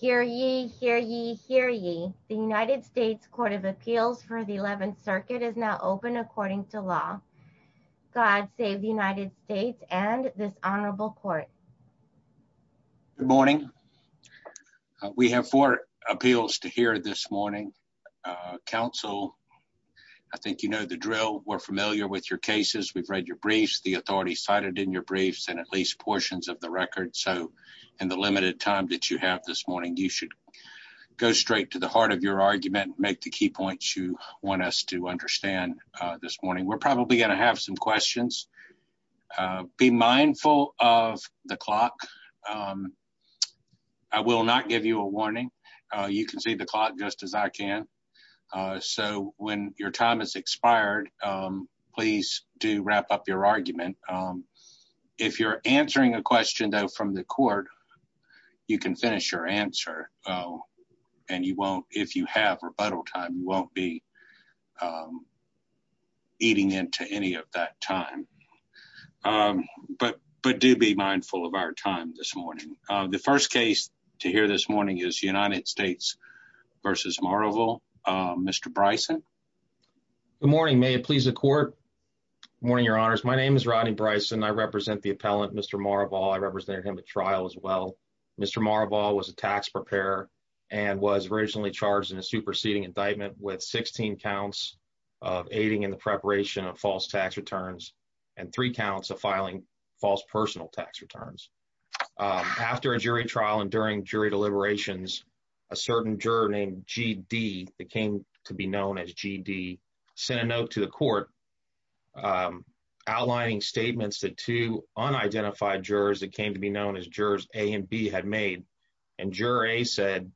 Hear ye, hear ye, hear ye. The United States Court of Appeals for the 11th Circuit is now open according to law. God save the United States and this honorable court. Good morning. We have four appeals to hear this morning. Council, I think you know the drill. We're familiar with your cases. We've read your briefs, the authorities cited in your briefs, at least portions of the record. So in the limited time that you have this morning, you should go straight to the heart of your argument, make the key points you want us to understand this morning. We're probably going to have some questions. Be mindful of the clock. I will not give you a warning. You can see the clock just as I can. So when your time is expired, please do wrap up your argument. If you're answering a question though from the court, you can finish your answer and you won't, if you have rebuttal time, you won't be eating into any of that time. But do be mindful of our time this morning. The first case to hear this morning is United States v. Maraval, Mr. Bryson. Good morning. May it please the court. Morning, your honors. My name is Rodney Bryson. I represent the appellant, Mr. Maraval. I represent him at trial as well. Mr. Maraval was a tax preparer and was originally charged in a superseding indictment with 16 counts of aiding in the preparation of false tax returns and three jury deliberations. A certain juror named G.D. that came to be known as G.D. sent a note to the court outlining statements that two unidentified jurors that came to be known as jurors A and B had made. And juror A said,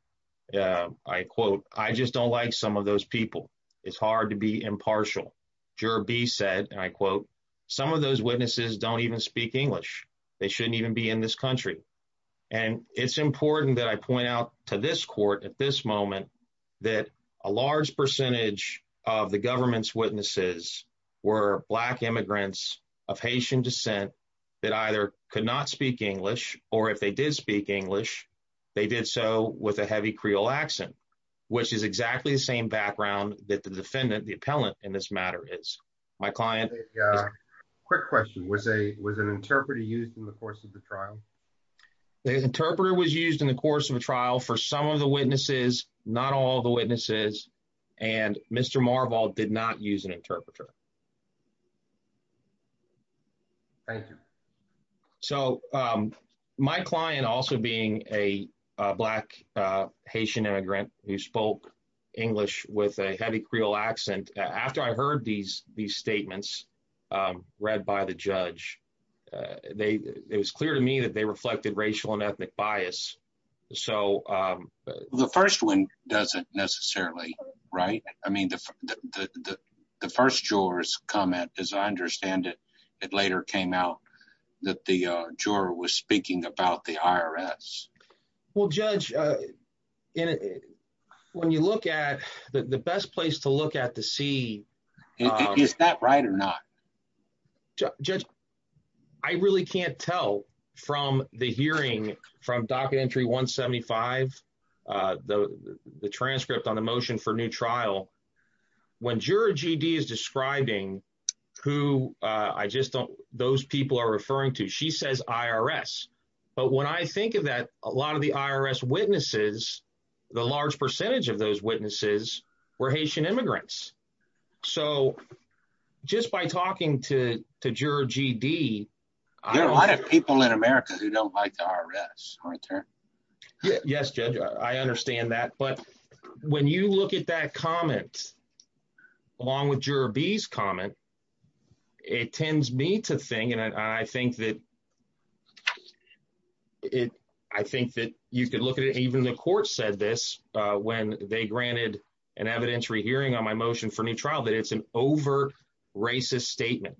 I quote, I just don't like some of those people. It's hard to be impartial. Juror B said, and I quote, some of those witnesses don't even speak English. They shouldn't be in this country. And it's important that I point out to this court at this moment that a large percentage of the government's witnesses were black immigrants of Haitian descent that either could not speak English or if they did speak English, they did so with a heavy Creole accent, which is exactly the same background that the defendant, the appellant in this matter is. My client. Yeah. Quick question. Was a, was an interpreter used in the course of the trial? The interpreter was used in the course of the trial for some of the witnesses, not all the witnesses. And Mr. Marval did not use an interpreter. Thank you. So my client also being a black Haitian immigrant who spoke English with a Creole accent, after I heard these, these statements read by the judge, they, it was clear to me that they reflected racial and ethnic bias. So the first one doesn't necessarily, right. I mean, the, the, the, the first juror's comment, as I understand it, it later came out that the juror was speaking about the IRS. Well, judge, in it, when you look at the, the best place to look at to see is that right or not? Judge, I really can't tell from the hearing from docket entry one 75, the, the transcript on the motion for new trial, when juror GD is describing who I just don't, those people are referring to, she says IRS. But when I think of that, a lot of the IRS witnesses, the large percentage of those witnesses were Haitian immigrants. So just by talking to, to juror GD, a lot of people in America who don't like the IRS. Yes, judge, I understand that. But when you look at that comment, along with juror B's comment, it tends me to think, and I think that it, I think that you could look at it. Even the court said this when they granted an evidentiary hearing on my motion for new trial, that it's an over racist statement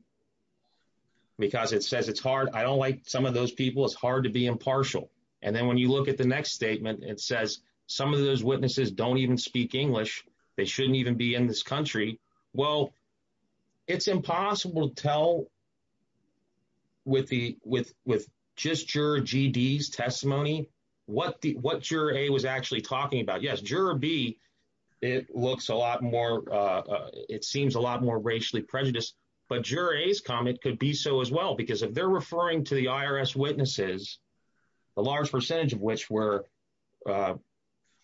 because it says it's hard. I don't like some of those people. It's hard to be impartial. And then when you look at the next statement, it says some of those witnesses don't speak English. They shouldn't even be in this country. Well, it's impossible to tell with the, with, with just juror GD's testimony, what the, what juror A was actually talking about. Yes, juror B, it looks a lot more, it seems a lot more racially prejudiced, but juror A's comment could be so as well, because if they're referring to the IRS witnesses, the large percentage of which were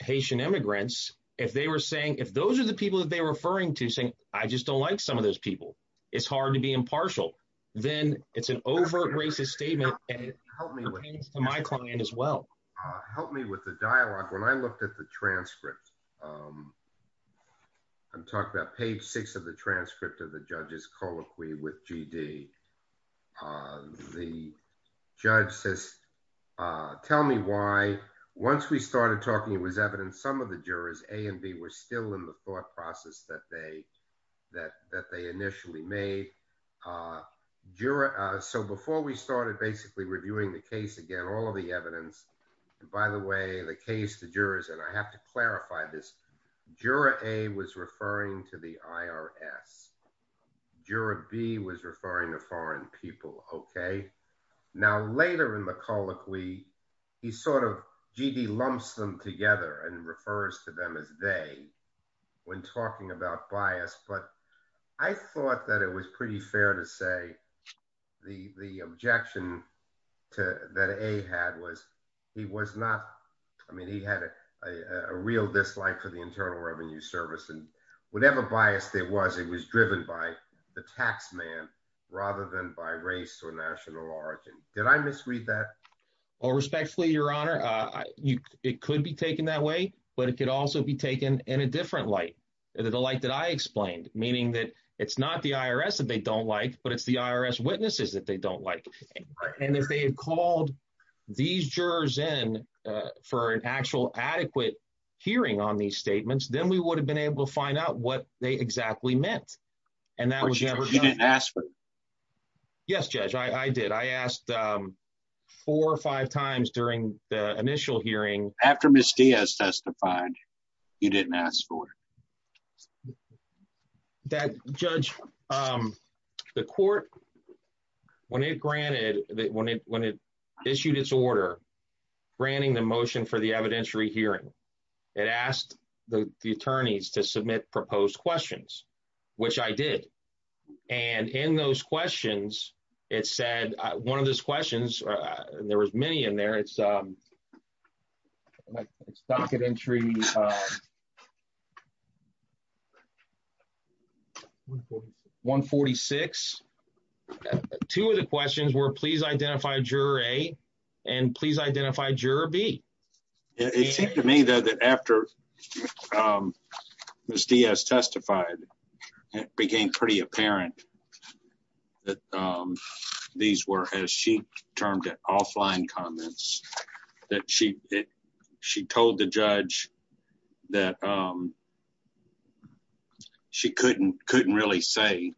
Haitian immigrants, if they were saying, if those are the people that they were referring to saying, I just don't like some of those people, it's hard to be impartial. Then it's an overt racist statement and it pertains to my client as well. Help me with the dialogue. When I looked at the transcript, I'm talking about page six of the transcript of the judge's colloquy with GD. Uh, the judge says, uh, tell me why once we started talking, it was evidence. Some of the jurors A and B were still in the thought process that they, that, that they initially made, uh, juror. Uh, so before we started basically reviewing the case again, all of the evidence, by the way, the case, the jurors, and I have to clarify this juror A was referring to the IRS juror B was referring to foreign people. Okay. Now later in the colloquy, he sort of GD lumps them together and refers to them as day when talking about bias. But I thought that it was pretty fair to say the, the objection to that a had was he was not, I mean, he had a, a real dislike for the internal revenue service and whatever bias there was, it was driven by the tax man rather than by race or national origin. Did I misread that? Well, respectfully, your honor, uh, you, it could be taken that way, but it could also be taken in a different light. The light that I explained, meaning that it's not the IRS that they don't like, but it's the IRS witnesses that they don't like. And if they had called these jurors in, uh, for an actual adequate hearing on these statements, then we would have been able to find out what they exactly meant. And that was never asked for. Yes, judge. I did. I asked, um, four or five times during the initial hearing after Ms. Diaz testified, you didn't ask for that judge. Um, the court, when it granted that, when it, when it issued its order, granting the motion for the evidentiary hearing, it asked the attorneys to submit proposed questions, which I did. And in those questions, it said, uh, one of those questions, uh, there was many in there. It's, um, it's not good entry. One 46, two of the questions were please identify juror a, and please identify juror B. It seemed to me though, that after, um, Ms. Diaz testified, it became pretty apparent that, um, these were, as she termed it offline comments that she, she told the judge that, um, she couldn't, couldn't really say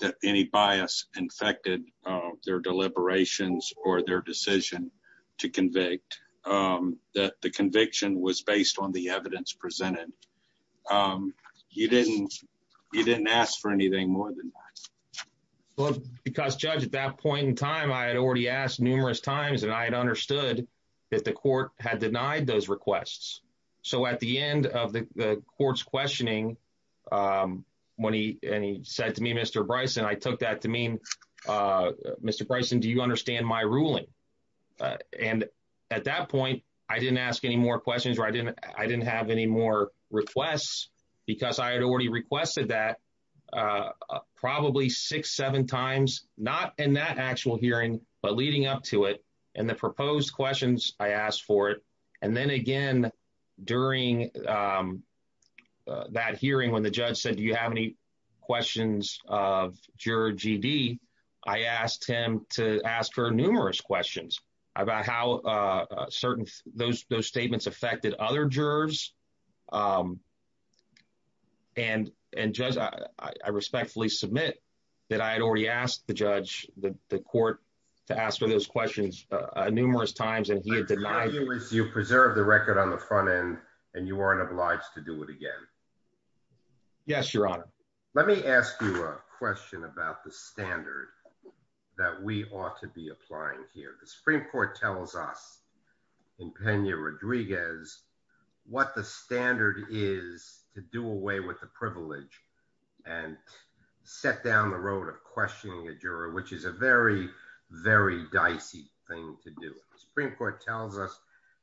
that any bias infected, uh, their deliberations or their decision to convict, um, that the conviction was based on the evidence presented. Um, you didn't, you didn't ask for anything more than that. Well, because judge at that point in time, I had already asked numerous times and I had understood that the court had denied those requests. So at the end of the court's questioning, um, when he, and he said to me, Mr. Bryson, I took that to mean, uh, Mr. Bryson, do you understand my ruling? Uh, and at that point, I didn't ask any more questions where I didn't, I didn't have any more requests because I had requested that, uh, probably six, seven times, not in that actual hearing, but leading up to it. And the proposed questions I asked for it. And then again, during, um, uh, that hearing when the judge said, do you have any questions of juror GD? I asked him to ask her numerous questions about how, uh, certain those, those statements affected other jurors. Um, and, and just, uh, I respectfully submit that I had already asked the judge that the court to ask her those questions, uh, numerous times. And he had denied you preserve the record on the front end and you weren't obliged to do it again. Yes, your honor. Let me ask you a question about the standard that we ought to be applying here. The Supreme court tells us in Pena Rodriguez, what the standard is to do away with the privilege and set down the road of questioning a juror, which is a very, very dicey thing to do. The Supreme court tells us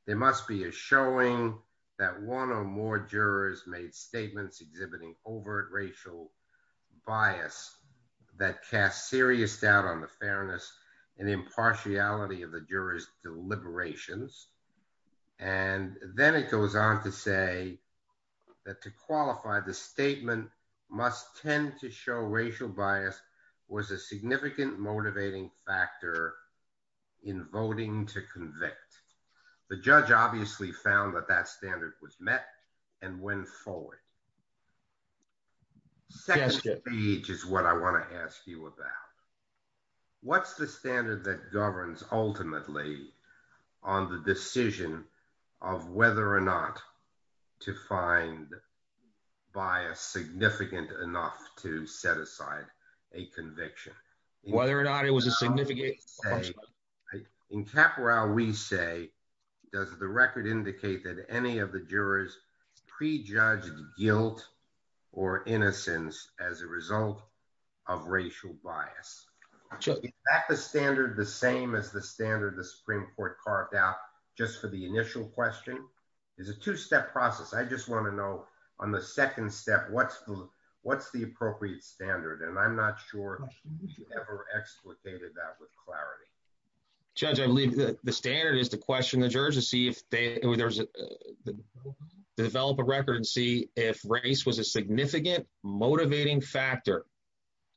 there must be a showing that one or more jurors made statements exhibiting overt racial bias that cast serious doubt on the fairness and impartiality of the jurors deliberations. And then it goes on to say that to qualify the statement must tend to show racial bias was a significant motivating factor in voting to convict. The judge obviously found that that standard was met and went forward. Second page is what I want to ask you about. What's the standard that governs ultimately on the decision of whether or not to find bias significant enough to set aside a conviction, whether or not it was a significant in Capra, we say, does the record indicate that any of the jurors prejudged guilt or innocence as a result of racial bias, back the standard, the same as the standard, the Supreme court carved out just for the initial question is a two-step process. I just want to know on the second step, what's the, what's the appropriate standard? And I'm not sure you ever explicated that with clarity. Judge, I believe that the standard is to question the jurors to see if they, develop a record and see if race was a significant motivating factor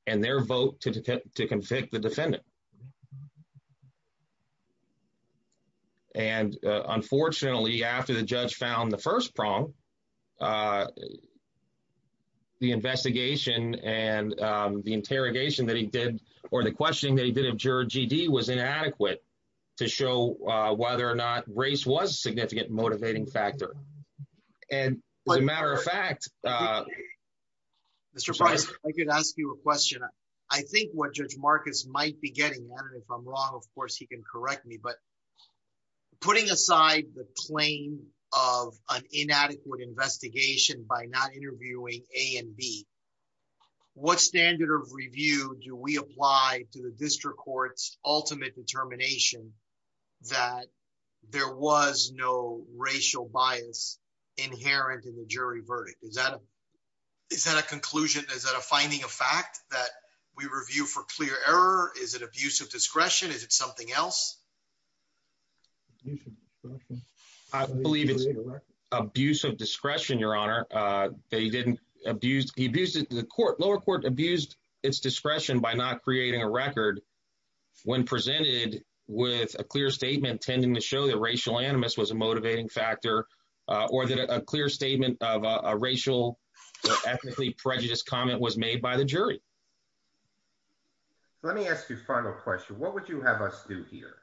and their vote to, to convict the defendant. And unfortunately, after the judge found the first prong, the investigation and the interrogation that he did, or the questioning that he did have juror GD was inadequate to show whether or not race was significant, motivating factor. And as a matter of fact, Mr. Price, I could ask you a question. I think what judge Marcus might be getting at, and if I'm wrong, of course he can correct me, but putting aside the plane of an inadequate investigation by not interviewing a and B what standard of review do we apply to the district courts, ultimate determination that there was no racial bias inherent in the jury verdict? Is that a, is that a conclusion? Is that a finding of fact that we review for clear error? Is it discretion? Is it something else? I believe it's abuse of discretion, your honor. They didn't abuse. He abused it. The court lower court abused its discretion by not creating a record when presented with a clear statement, tending to show that racial animus was a motivating factor or that a clear statement of a racial or ethnically prejudiced comment was made by the jury. So let me ask you a final question. What would you have us do here?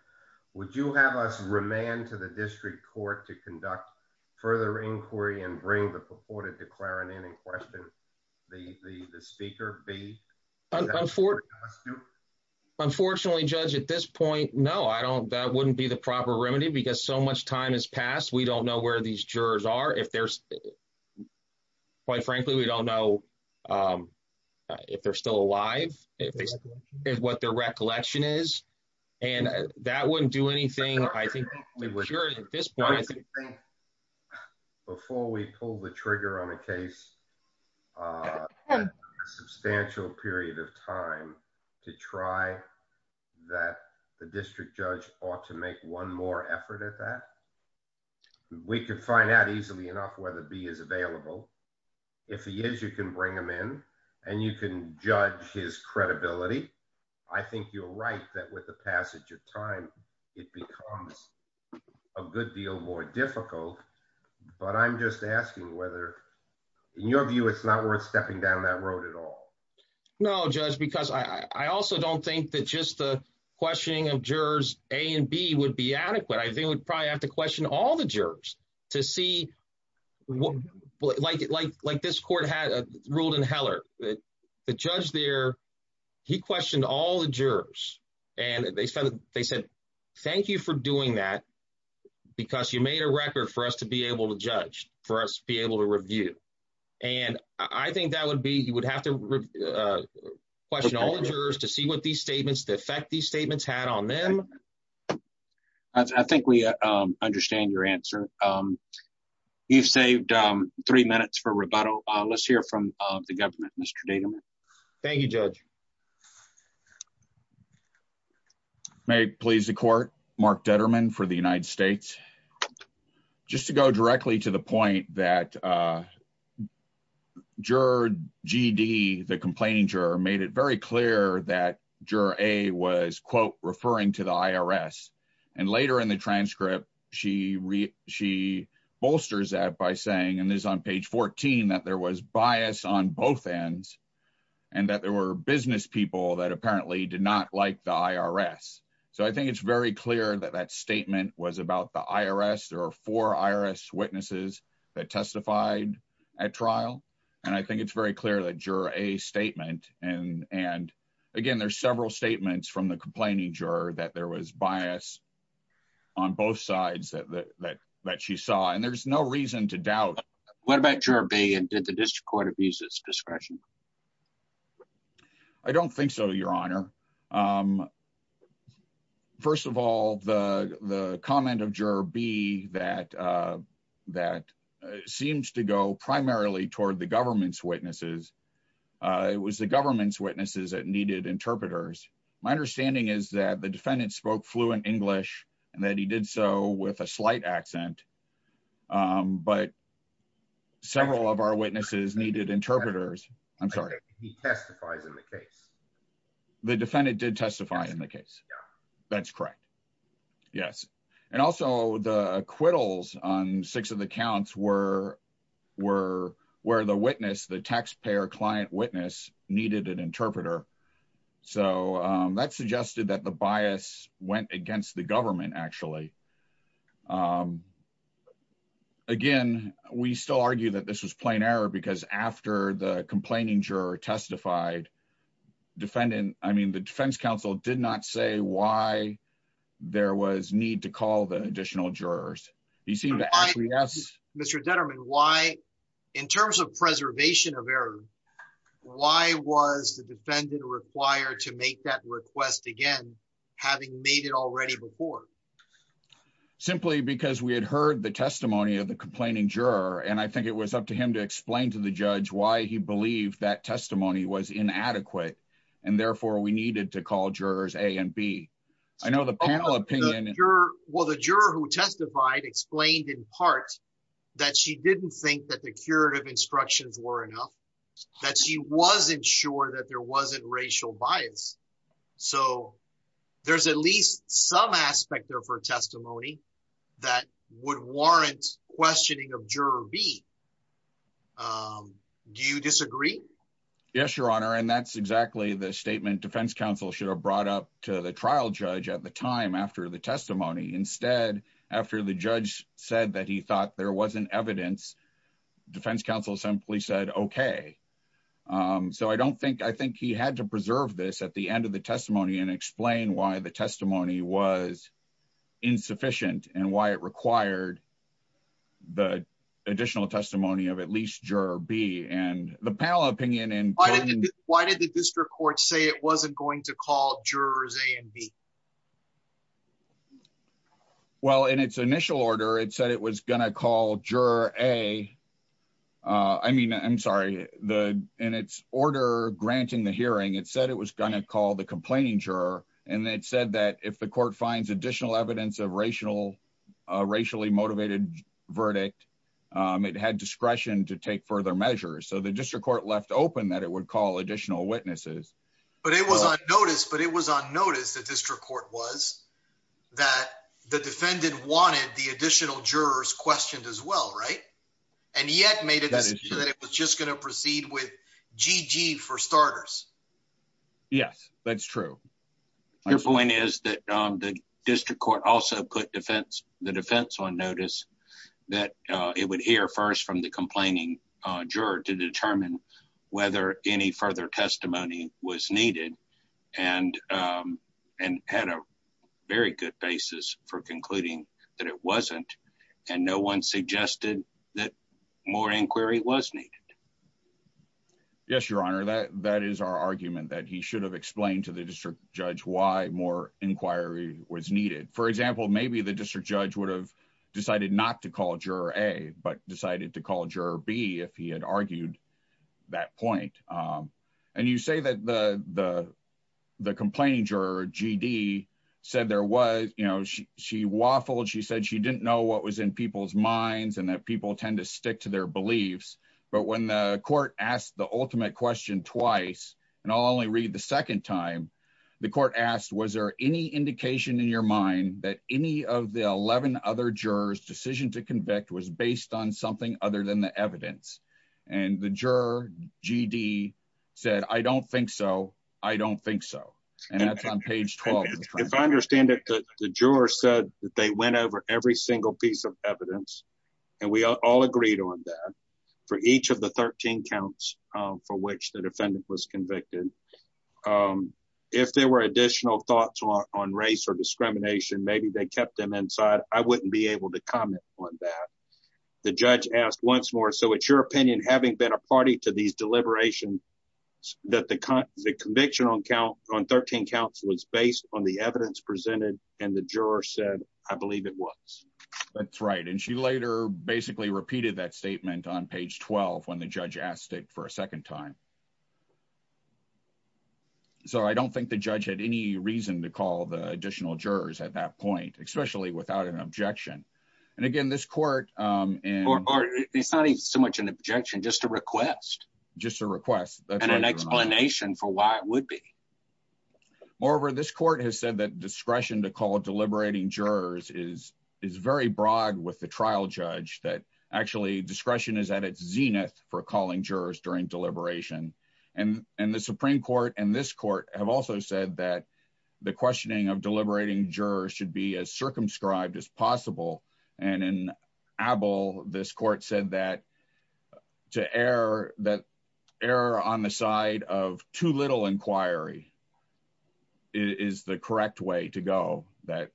Would you have us remand to the district court to conduct further inquiry and bring the purported declarant in and question the, the, the speaker B? Unfortunately judge at this point, no, I don't, that wouldn't be the proper remedy because so much time has passed. We don't know where these jurors are. If there's, quite frankly, we don't know if they're still alive, if they, what their recollection is, and that wouldn't do anything. I think at this point, I think before we pull the trigger on a case, a substantial period of time to try that the district judge ought to make one more effort at that. We could find out easily enough whether B is available. If he is, you can bring him in and you can judge his credibility. I think you're right that with the passage of time, it becomes a good deal more difficult, but I'm just asking whether in your view, it's not worth stepping down that road at all. No judge, because I, I also don't think that just the questioning of jurors A and B would be adequate. I think we'd probably have to question all the jurors to see what, like, like, like this court had ruled in Heller that the judge there, he questioned all the jurors and they said, they said, thank you for doing that because you made a record for us to be able to judge, for us to be able to review. And I think that would be, you would have to question all the jurors to see what these statements, the effect these statements had on them. I think we understand your answer. You've saved three minutes for rebuttal. Let's hear from the government, Mr. Degelman. Thank you, Judge. May it please the court, Mark Detterman for the United States. Just to go directly to the point that juror GD, the complaining juror made it very clear that juror A was quote referring to the IRS and later in the transcript, she, she bolsters that by saying, and this is on page 14, that there was bias on both ends and that there were business people that apparently did not like the IRS. So I think it's very clear that that statement was about the IRS. There are four witnesses that testified at trial. And I think it's very clear that juror A statement and, and again, there's several statements from the complaining juror that there was bias on both sides that, that, that she saw. And there's no reason to doubt. What about juror B and did the district court abuse its discretion? I don't think so, your honor. First of all, the, the comment of juror B that that seems to go primarily toward the government's witnesses. It was the government's witnesses that needed interpreters. My understanding is that the defendant spoke fluent English and that he did so with a slight accent. But several of our witnesses needed interpreters. I'm sorry. He testifies in the case. The defendant did testify in the case. That's correct. Yes. And also the acquittals on six of the counts were, were, were the witness, the taxpayer client witness needed an interpreter. So that suggested that the bias went against the government actually. Again, we still argue that this was plain error because after the complaining juror testified, defendant, I mean, the defense counsel did not say why there was need to call the additional jurors. He seemed to actually ask. Mr. Detterman, why in terms of preservation of error, why was the defendant required to make that request again, having made it already before? Simply because we had heard the testimony of the complaining juror. And I think it was up to him explain to the judge why he believed that testimony was inadequate. And therefore we needed to call jurors a and B. I know the panel opinion. Well, the juror who testified explained in part that she didn't think that the curative instructions were enough, that she wasn't sure that there wasn't racial bias. So there's at least some aspect there for testimony that would warrant questioning of juror B. Do you disagree? Yes, Your Honor. And that's exactly the statement defense counsel should have brought up to the trial judge at the time after the testimony. Instead, after the judge said that he thought there wasn't evidence, defense counsel simply said, OK. So I don't think I think he had to preserve this at the end of the testimony and explain why the testimony was insufficient and why it required the additional testimony of at least juror B and the panel opinion. And why did the district court say it wasn't going to call jurors A and B? Well, in its initial order, it said it was going to call juror A. I mean, I'm sorry, the in its order granting the hearing, it said it was going to call the complaining juror. And it said that if the court finds additional evidence of racial, racially motivated verdict, it had discretion to take further measures. So the district court left open that it would call additional witnesses. But it was on notice, but it was on notice that district court was that the defendant wanted the additional jurors questioned as well, right? And yet made it that it was just going to proceed with Gigi for starters. Yes, that's true. Your point is that the district court also put defense the defense on notice that it would hear first from the complaining juror to determine whether any further testimony was needed and and had a very good basis for concluding that it wasn't and no one suggested that more inquiry was needed. Yes, Your Honor, that that is our argument that he should have explained to the district judge why more inquiry was needed. For example, maybe the district judge would have decided not to call juror A but decided to call juror B if he had argued that point. And you say that the the the complaining juror GD said there was you know, she she waffled she said she didn't know what was in people's minds and that people tend to stick to their beliefs. But when the court asked the ultimate question twice, and I'll only read the second time, the court asked, was there any indication in your mind that any of the 11 other jurors decision to convict was based on something other than the evidence? And the juror GD said, I don't think so. I don't think so. And that's on page 12. If I understand it, the juror said that they went over every single piece of evidence. And we all agreed on that for each of the 13 counts for which the defendant was convicted. If there were additional thoughts on race or discrimination, maybe they kept them inside. I wouldn't be able to comment on that. The judge asked once more. So it's your opinion, having been a party to these deliberations, that the conviction on count on 13 counts was based on the evidence presented, and the juror said, I believe it was. That's right. And she later basically repeated that statement on page 12. When the judge asked it for a second time. So I don't think the judge had any reason to call the additional jurors at that point, especially without an objection. And again, this court. It's not so much an objection, just a request. Just a request. And an explanation for why it would be. Moreover, this court has said that discretion to call deliberating jurors is very broad with the trial judge that actually discretion is at its zenith for calling jurors during deliberation. And the Supreme Court and this court have also said that the questioning of deliberating jurors should be as circumscribed as possible. And in Abel, this court said that to err, that error on the side of too little inquiry is the correct way to go that.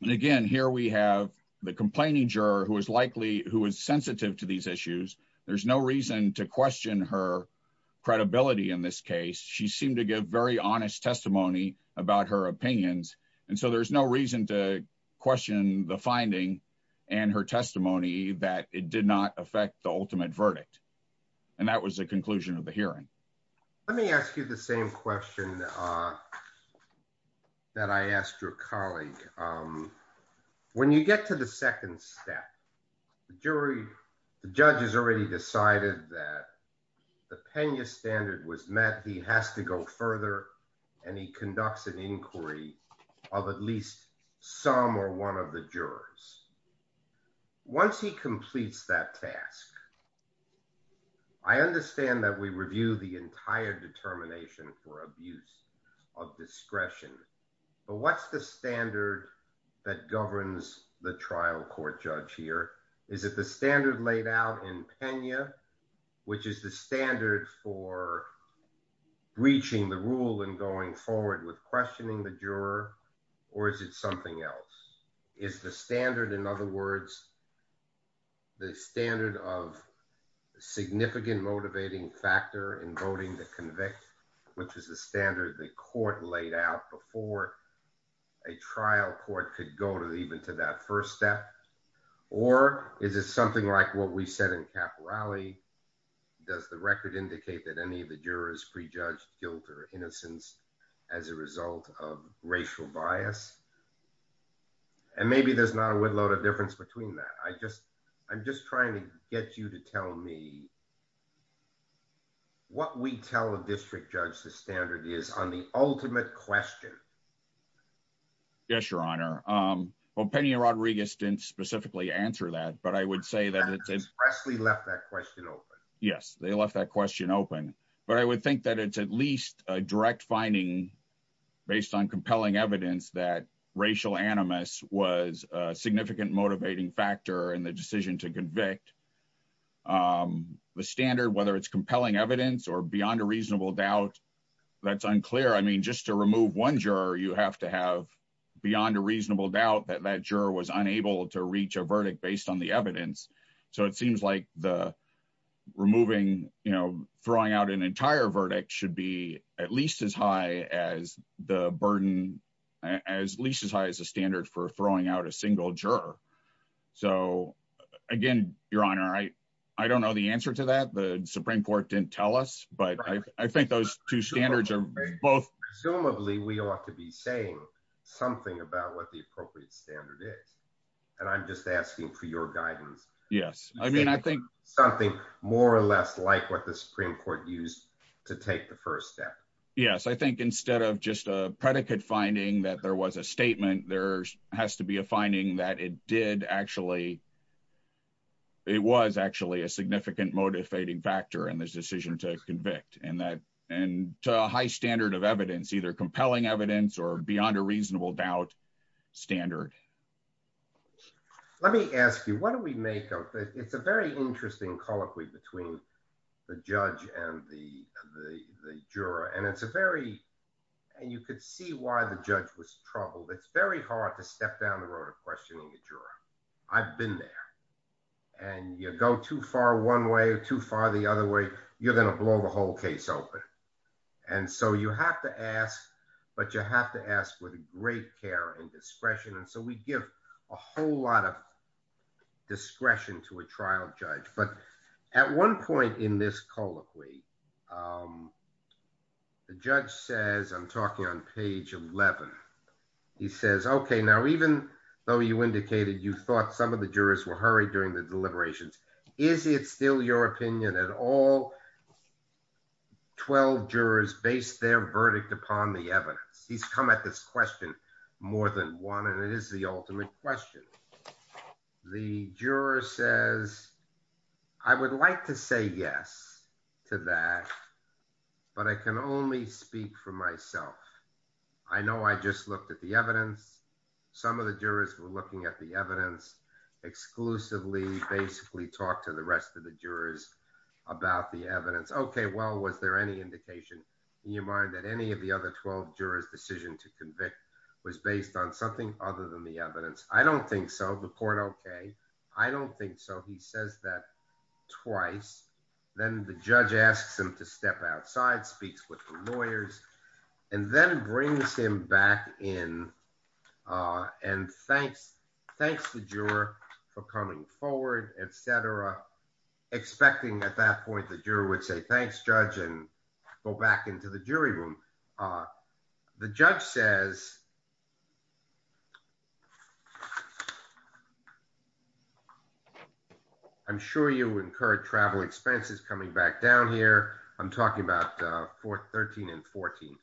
And again, here we have the complaining juror who is likely who is sensitive to these issues. There's no reason to question her credibility in this case. She seemed to give very honest testimony about her opinions. And so there's no reason to question the finding and her testimony that it did not affect the ultimate verdict. And that was the conclusion of the hearing. Let me ask you the same question that I asked your colleague. When you get to the second step, the jury, the judge has already decided that the Pena standard was met. He has to go further and he conducts an inquiry of at least some or one of the jurors. Once he completes that task, I understand that we review the entire determination for abuse of discretion. But what's the standard that governs the trial court judge here? Is it the standard laid out in Pena, which is the standard for breaching the rule and going forward with questioning the juror, or is it something else? Is the standard, in other words, the standard of significant motivating factor in voting to convict, which is the standard the court laid out before a trial court could go even to that first step? Or is it something like what we said in Caporale? Does the record indicate that any of the jurors prejudged guilt or innocence as a result of racial bias? And maybe there's not a whipload of difference between that. I'm just trying to get you to tell me what we tell a district judge the standard is on the ultimate question. Yes, your honor. Well, Penny Rodriguez didn't specifically answer that, but I would say that it's expressly left that question open. Yes, they left that question open. But I would think that it's at least a direct finding based on compelling evidence that racial animus was a significant motivating factor in the decision to convict. The standard, whether it's compelling evidence or reasonable doubt, that's unclear. I mean, just to remove one juror, you have to have beyond a reasonable doubt that that juror was unable to reach a verdict based on the evidence. So it seems like the removing, you know, throwing out an entire verdict should be at least as high as the burden, as least as high as the standard for throwing out a single juror. So again, your honor, I don't know the answer to that. The Supreme Court didn't tell us, but I think those two standards are both. Presumably we ought to be saying something about what the appropriate standard is. And I'm just asking for your guidance. Yes. I mean, I think something more or less like what the Supreme Court used to take the first step. Yes. I think instead of just a predicate finding that there was a statement, there has to be a finding that it did actually, it was actually a significant motivating factor in this decision to convict and that, and to a high standard of evidence, either compelling evidence or beyond a reasonable doubt standard. Let me ask you, what do we make of it? It's a very interesting colloquy between the judge and the juror. And it's a very, and you could see why the judge was troubled. It's very hard to step down the road of questioning a juror. I've been there and you go too far one way or too far the other way, you're going to blow the whole case open. And so you have to ask, but you have to ask with great care and discretion. And so we give a whole lot of discretion to a trial judge. But at one point in this colloquy, the judge says, I'm talking on page 11. He says, okay, now, even though you indicated you thought some of the jurors were hurried during the deliberations, is it still your opinion at all? 12 jurors based their verdict upon the evidence. He's come at this question more than one, and it the ultimate question. The juror says, I would like to say yes to that, but I can only speak for myself. I know I just looked at the evidence. Some of the jurors were looking at the evidence exclusively, basically talk to the rest of the jurors about the evidence. Okay. Well, was there any indication in your mind that any of the other 12 jurors decision to convict was based on something other than the evidence? I don't think so. The court, okay. I don't think so. He says that twice. Then the judge asks him to step outside, speaks with the lawyers, and then brings him back in and thanks the juror for coming forward, et cetera, expecting at that point. I'm sure you incurred travel expenses coming back down here. I'm talking about 13 and 14,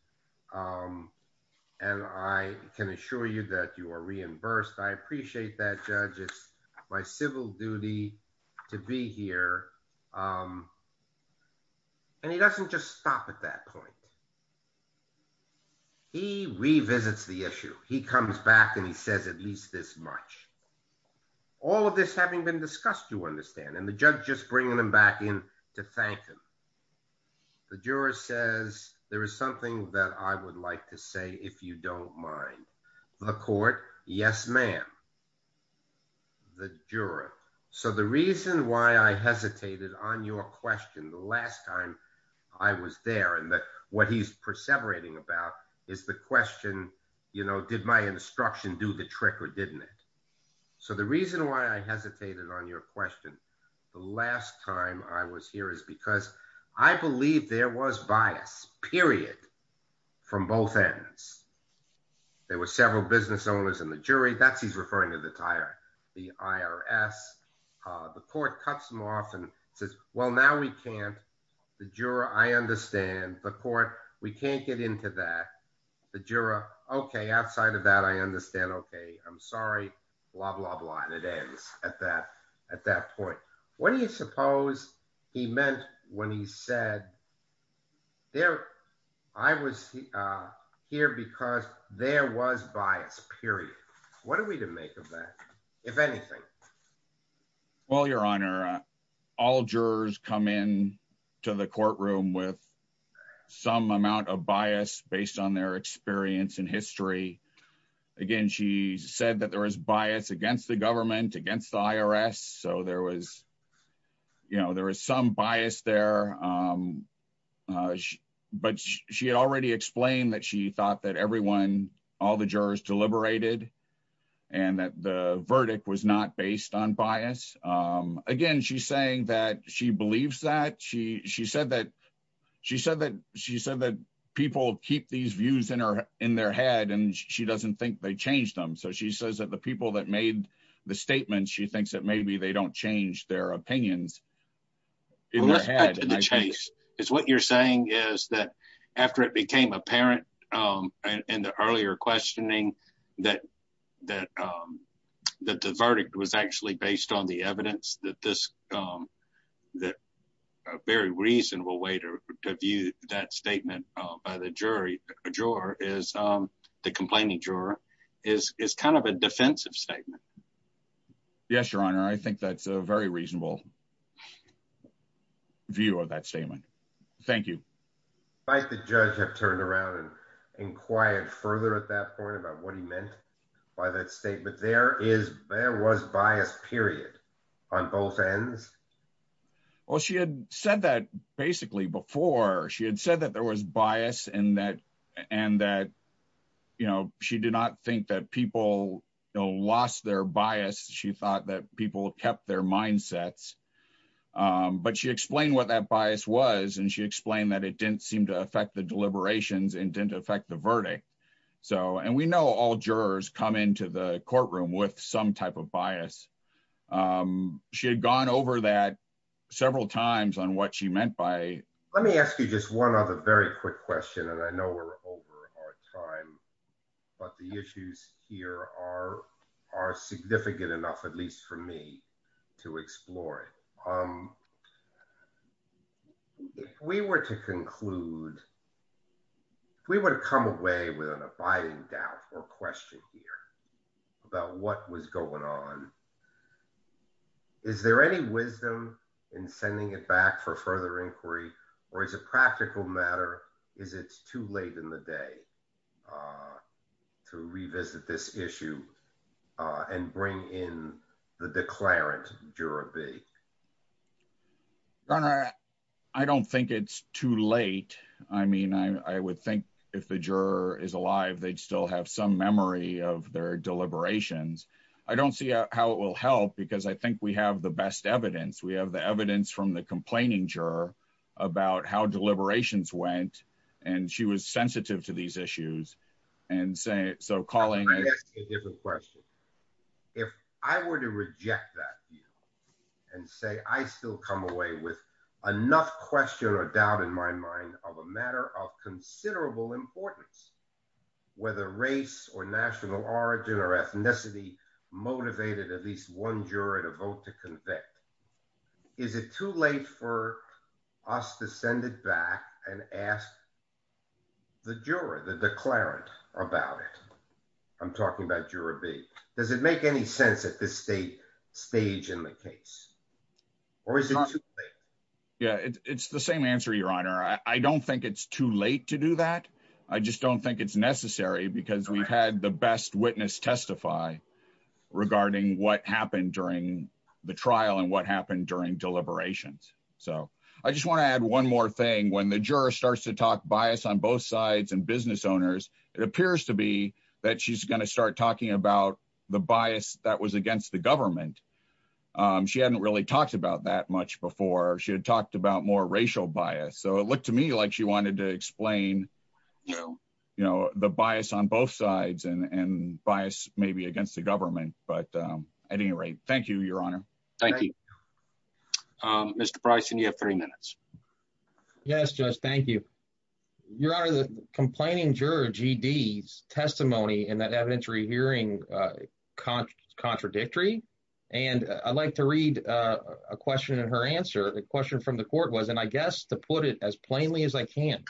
and I can assure you that you are reimbursed. I appreciate that, judge. It's my civil duty to be here. He doesn't just stop at that point. He revisits the issue. He comes back and he says at least this much. All of this having been discussed, you understand, and the judge just bringing him back in to thank him. The juror says, there is something that I would like to say if you don't mind. The court, yes, ma'am. The juror. The reason why I hesitated on your question the last time I was there and what he's perseverating about is the question, did my instruction do the trick or didn't it? The reason why I hesitated on your question the last time I was here is because I believe there was bias, period, from both ends. There were several business owners in the jury. That's he's referring to the IRS. The court cuts him off and says, well, now we can't. The juror, I understand. The court, we can't get into that. The juror, okay, outside of that, I understand. Okay, I'm sorry, blah, blah, blah, and it ends at that point. What do you suppose he meant when he said, I was here because there was bias, period. What are we to make of that, if anything? Well, your honor, all jurors come in to the courtroom with some amount of bias based on their experience in history. Again, she said that there was bias against the government, against the IRS. There was some bias there, but she had already explained that she thought that all the jurors deliberated and that the verdict was not based on bias. Again, she's saying that she believes that. She said that people keep these views in their head and she doesn't think they changed them. She says that the people that made the statement, she thinks that maybe they don't change their opinions. It's what you're saying is that after it became apparent in the earlier questioning that the verdict was actually based on the evidence, that a very reasonable way to view that statement by the juror is the complaining juror is kind of a defensive statement. Yes, your honor. I think that's a very reasonable view of that statement. Thank you. Might the judge have turned around and inquired further at that point about what he meant by that statement? There was bias, period, on both ends. Well, she had said that basically before. She had said that there was bias and that she did not think that people lost their bias. She thought that people kept their mindsets, but she explained what that bias was and she explained that it didn't seem to affect the deliberations and didn't affect the verdict. We know all jurors come into the courtroom with some bias. She had gone over that several times on what she meant by it. Let me ask you just one other very quick question. I know we're over our time, but the issues here are significant enough, at least for me, to explore it. If we were to conclude, if we were to come away with an abiding doubt or question here about what was going on, is there any wisdom in sending it back for further inquiry, or is it a practical matter? Is it too late in the day to revisit this issue and bring in the declarant, Juror B? Your honor, I don't think it's too late. I would think if the juror is alive, they'd still have some memory of their deliberations. I don't see how it will help because I think we have the best evidence. We have the evidence from the complaining juror about how deliberations went, and she was sensitive to these issues. So, Colleen- Let me ask you a different question. If I were to reject that view and say, I still come away with enough question or doubt in my of a matter of considerable importance, whether race or national origin or ethnicity motivated at least one juror to vote to convict, is it too late for us to send it back and ask the juror, the declarant about it? I'm talking about Juror B. Does it make any sense at this stage in the case? Or is it too late? Yeah, it's the same answer, your honor. I don't think it's too late to do that. I just don't think it's necessary because we've had the best witness testify regarding what happened during the trial and what happened during deliberations. So, I just want to add one more thing. When the juror starts to talk bias on both sides and business owners, it appears to be that she's going to start talking about the bias that was against the government. She hadn't really talked about that much before. She had talked about more racial bias. So, it looked to me like she wanted to explain the bias on both sides and bias maybe against the government. But at any rate, thank you, your honor. Thank you. Mr. Bryson, you have three minutes. Yes, Judge. Thank you. Your honor, the complaining juror G.D.'s testimony in that case was contradictory. And I'd like to read a question in her answer. The question from the court was, and I guess to put it as plainly as I can,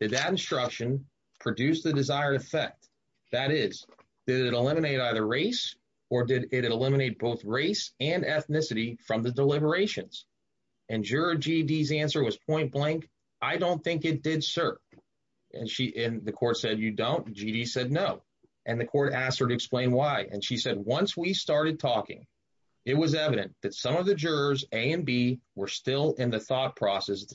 did that instruction produce the desired effect? That is, did it eliminate either race or did it eliminate both race and ethnicity from the deliberations? And juror G.D.'s answer was point blank. I don't think it did, sir. And the court said you don't. G.D. said no. And the court asked her to explain why. And she said, once we started talking, it was evident that some of the jurors, A and B, were still in the thought process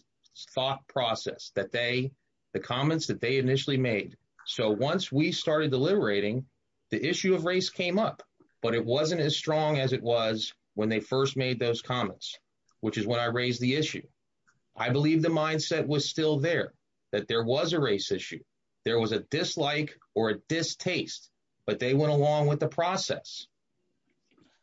that they, the comments that they initially made. So, once we started deliberating, the issue of race came up. But it wasn't as strong as it was when they first made those comments, which is when I raised the issue. I believe the mindset was still there, that there was a race issue. There was a dislike or a distaste, but they went along with the process.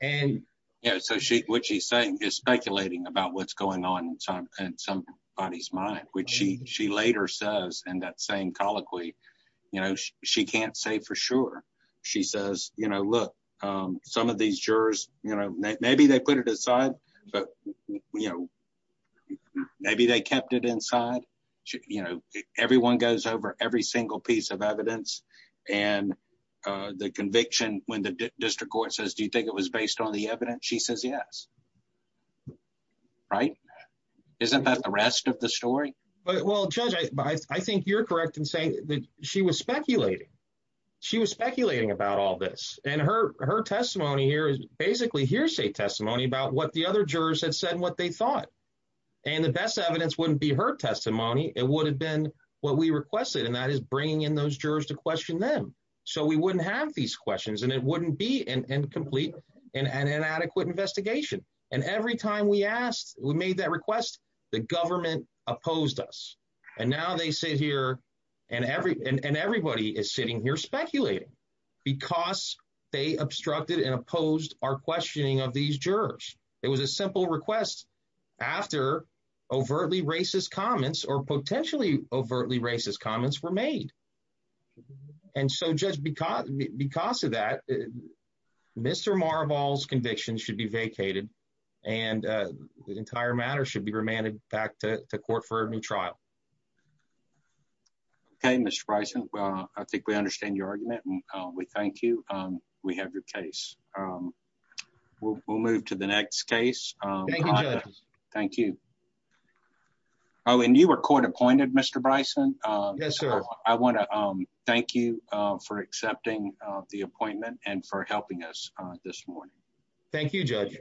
And, yeah, so what she's saying is speculating about what's going on in somebody's mind, which she later says in that same colloquy, you know, she can't say for sure. She says, you know, look, some of these jurors, you know, maybe they put it aside, but, you know, maybe they kept it inside. You know, everyone goes over every single piece of evidence. And the conviction, when the district court says, do you think it was based on the evidence? She says, yes. Right? Isn't that the rest of the story? Well, Judge, I think you're correct in saying that she was speculating. She was speculating about all this. And her testimony here is basically testimony about what the other jurors had said, what they thought. And the best evidence wouldn't be her testimony. It would have been what we requested. And that is bringing in those jurors to question them. So we wouldn't have these questions and it wouldn't be an incomplete and inadequate investigation. And every time we asked, we made that request, the government opposed us. And now they sit here and everybody is sitting here speculating because they obstructed and opposed our questioning of these jurors. It was a simple request after overtly racist comments or potentially overtly racist comments were made. And so, Judge, because of that, Mr. Marabal's conviction should be vacated and the entire matter should be remanded back to court for a new trial. Okay, Mr. Bryson, I think we understand your argument and we thank you. We have your case. We'll move to the next case. Thank you, Judge. Thank you. Oh, and you were court appointed, Mr. Bryson. Yes, sir. I want to thank you for accepting the appointment and for helping us this morning. Thank you, Judge.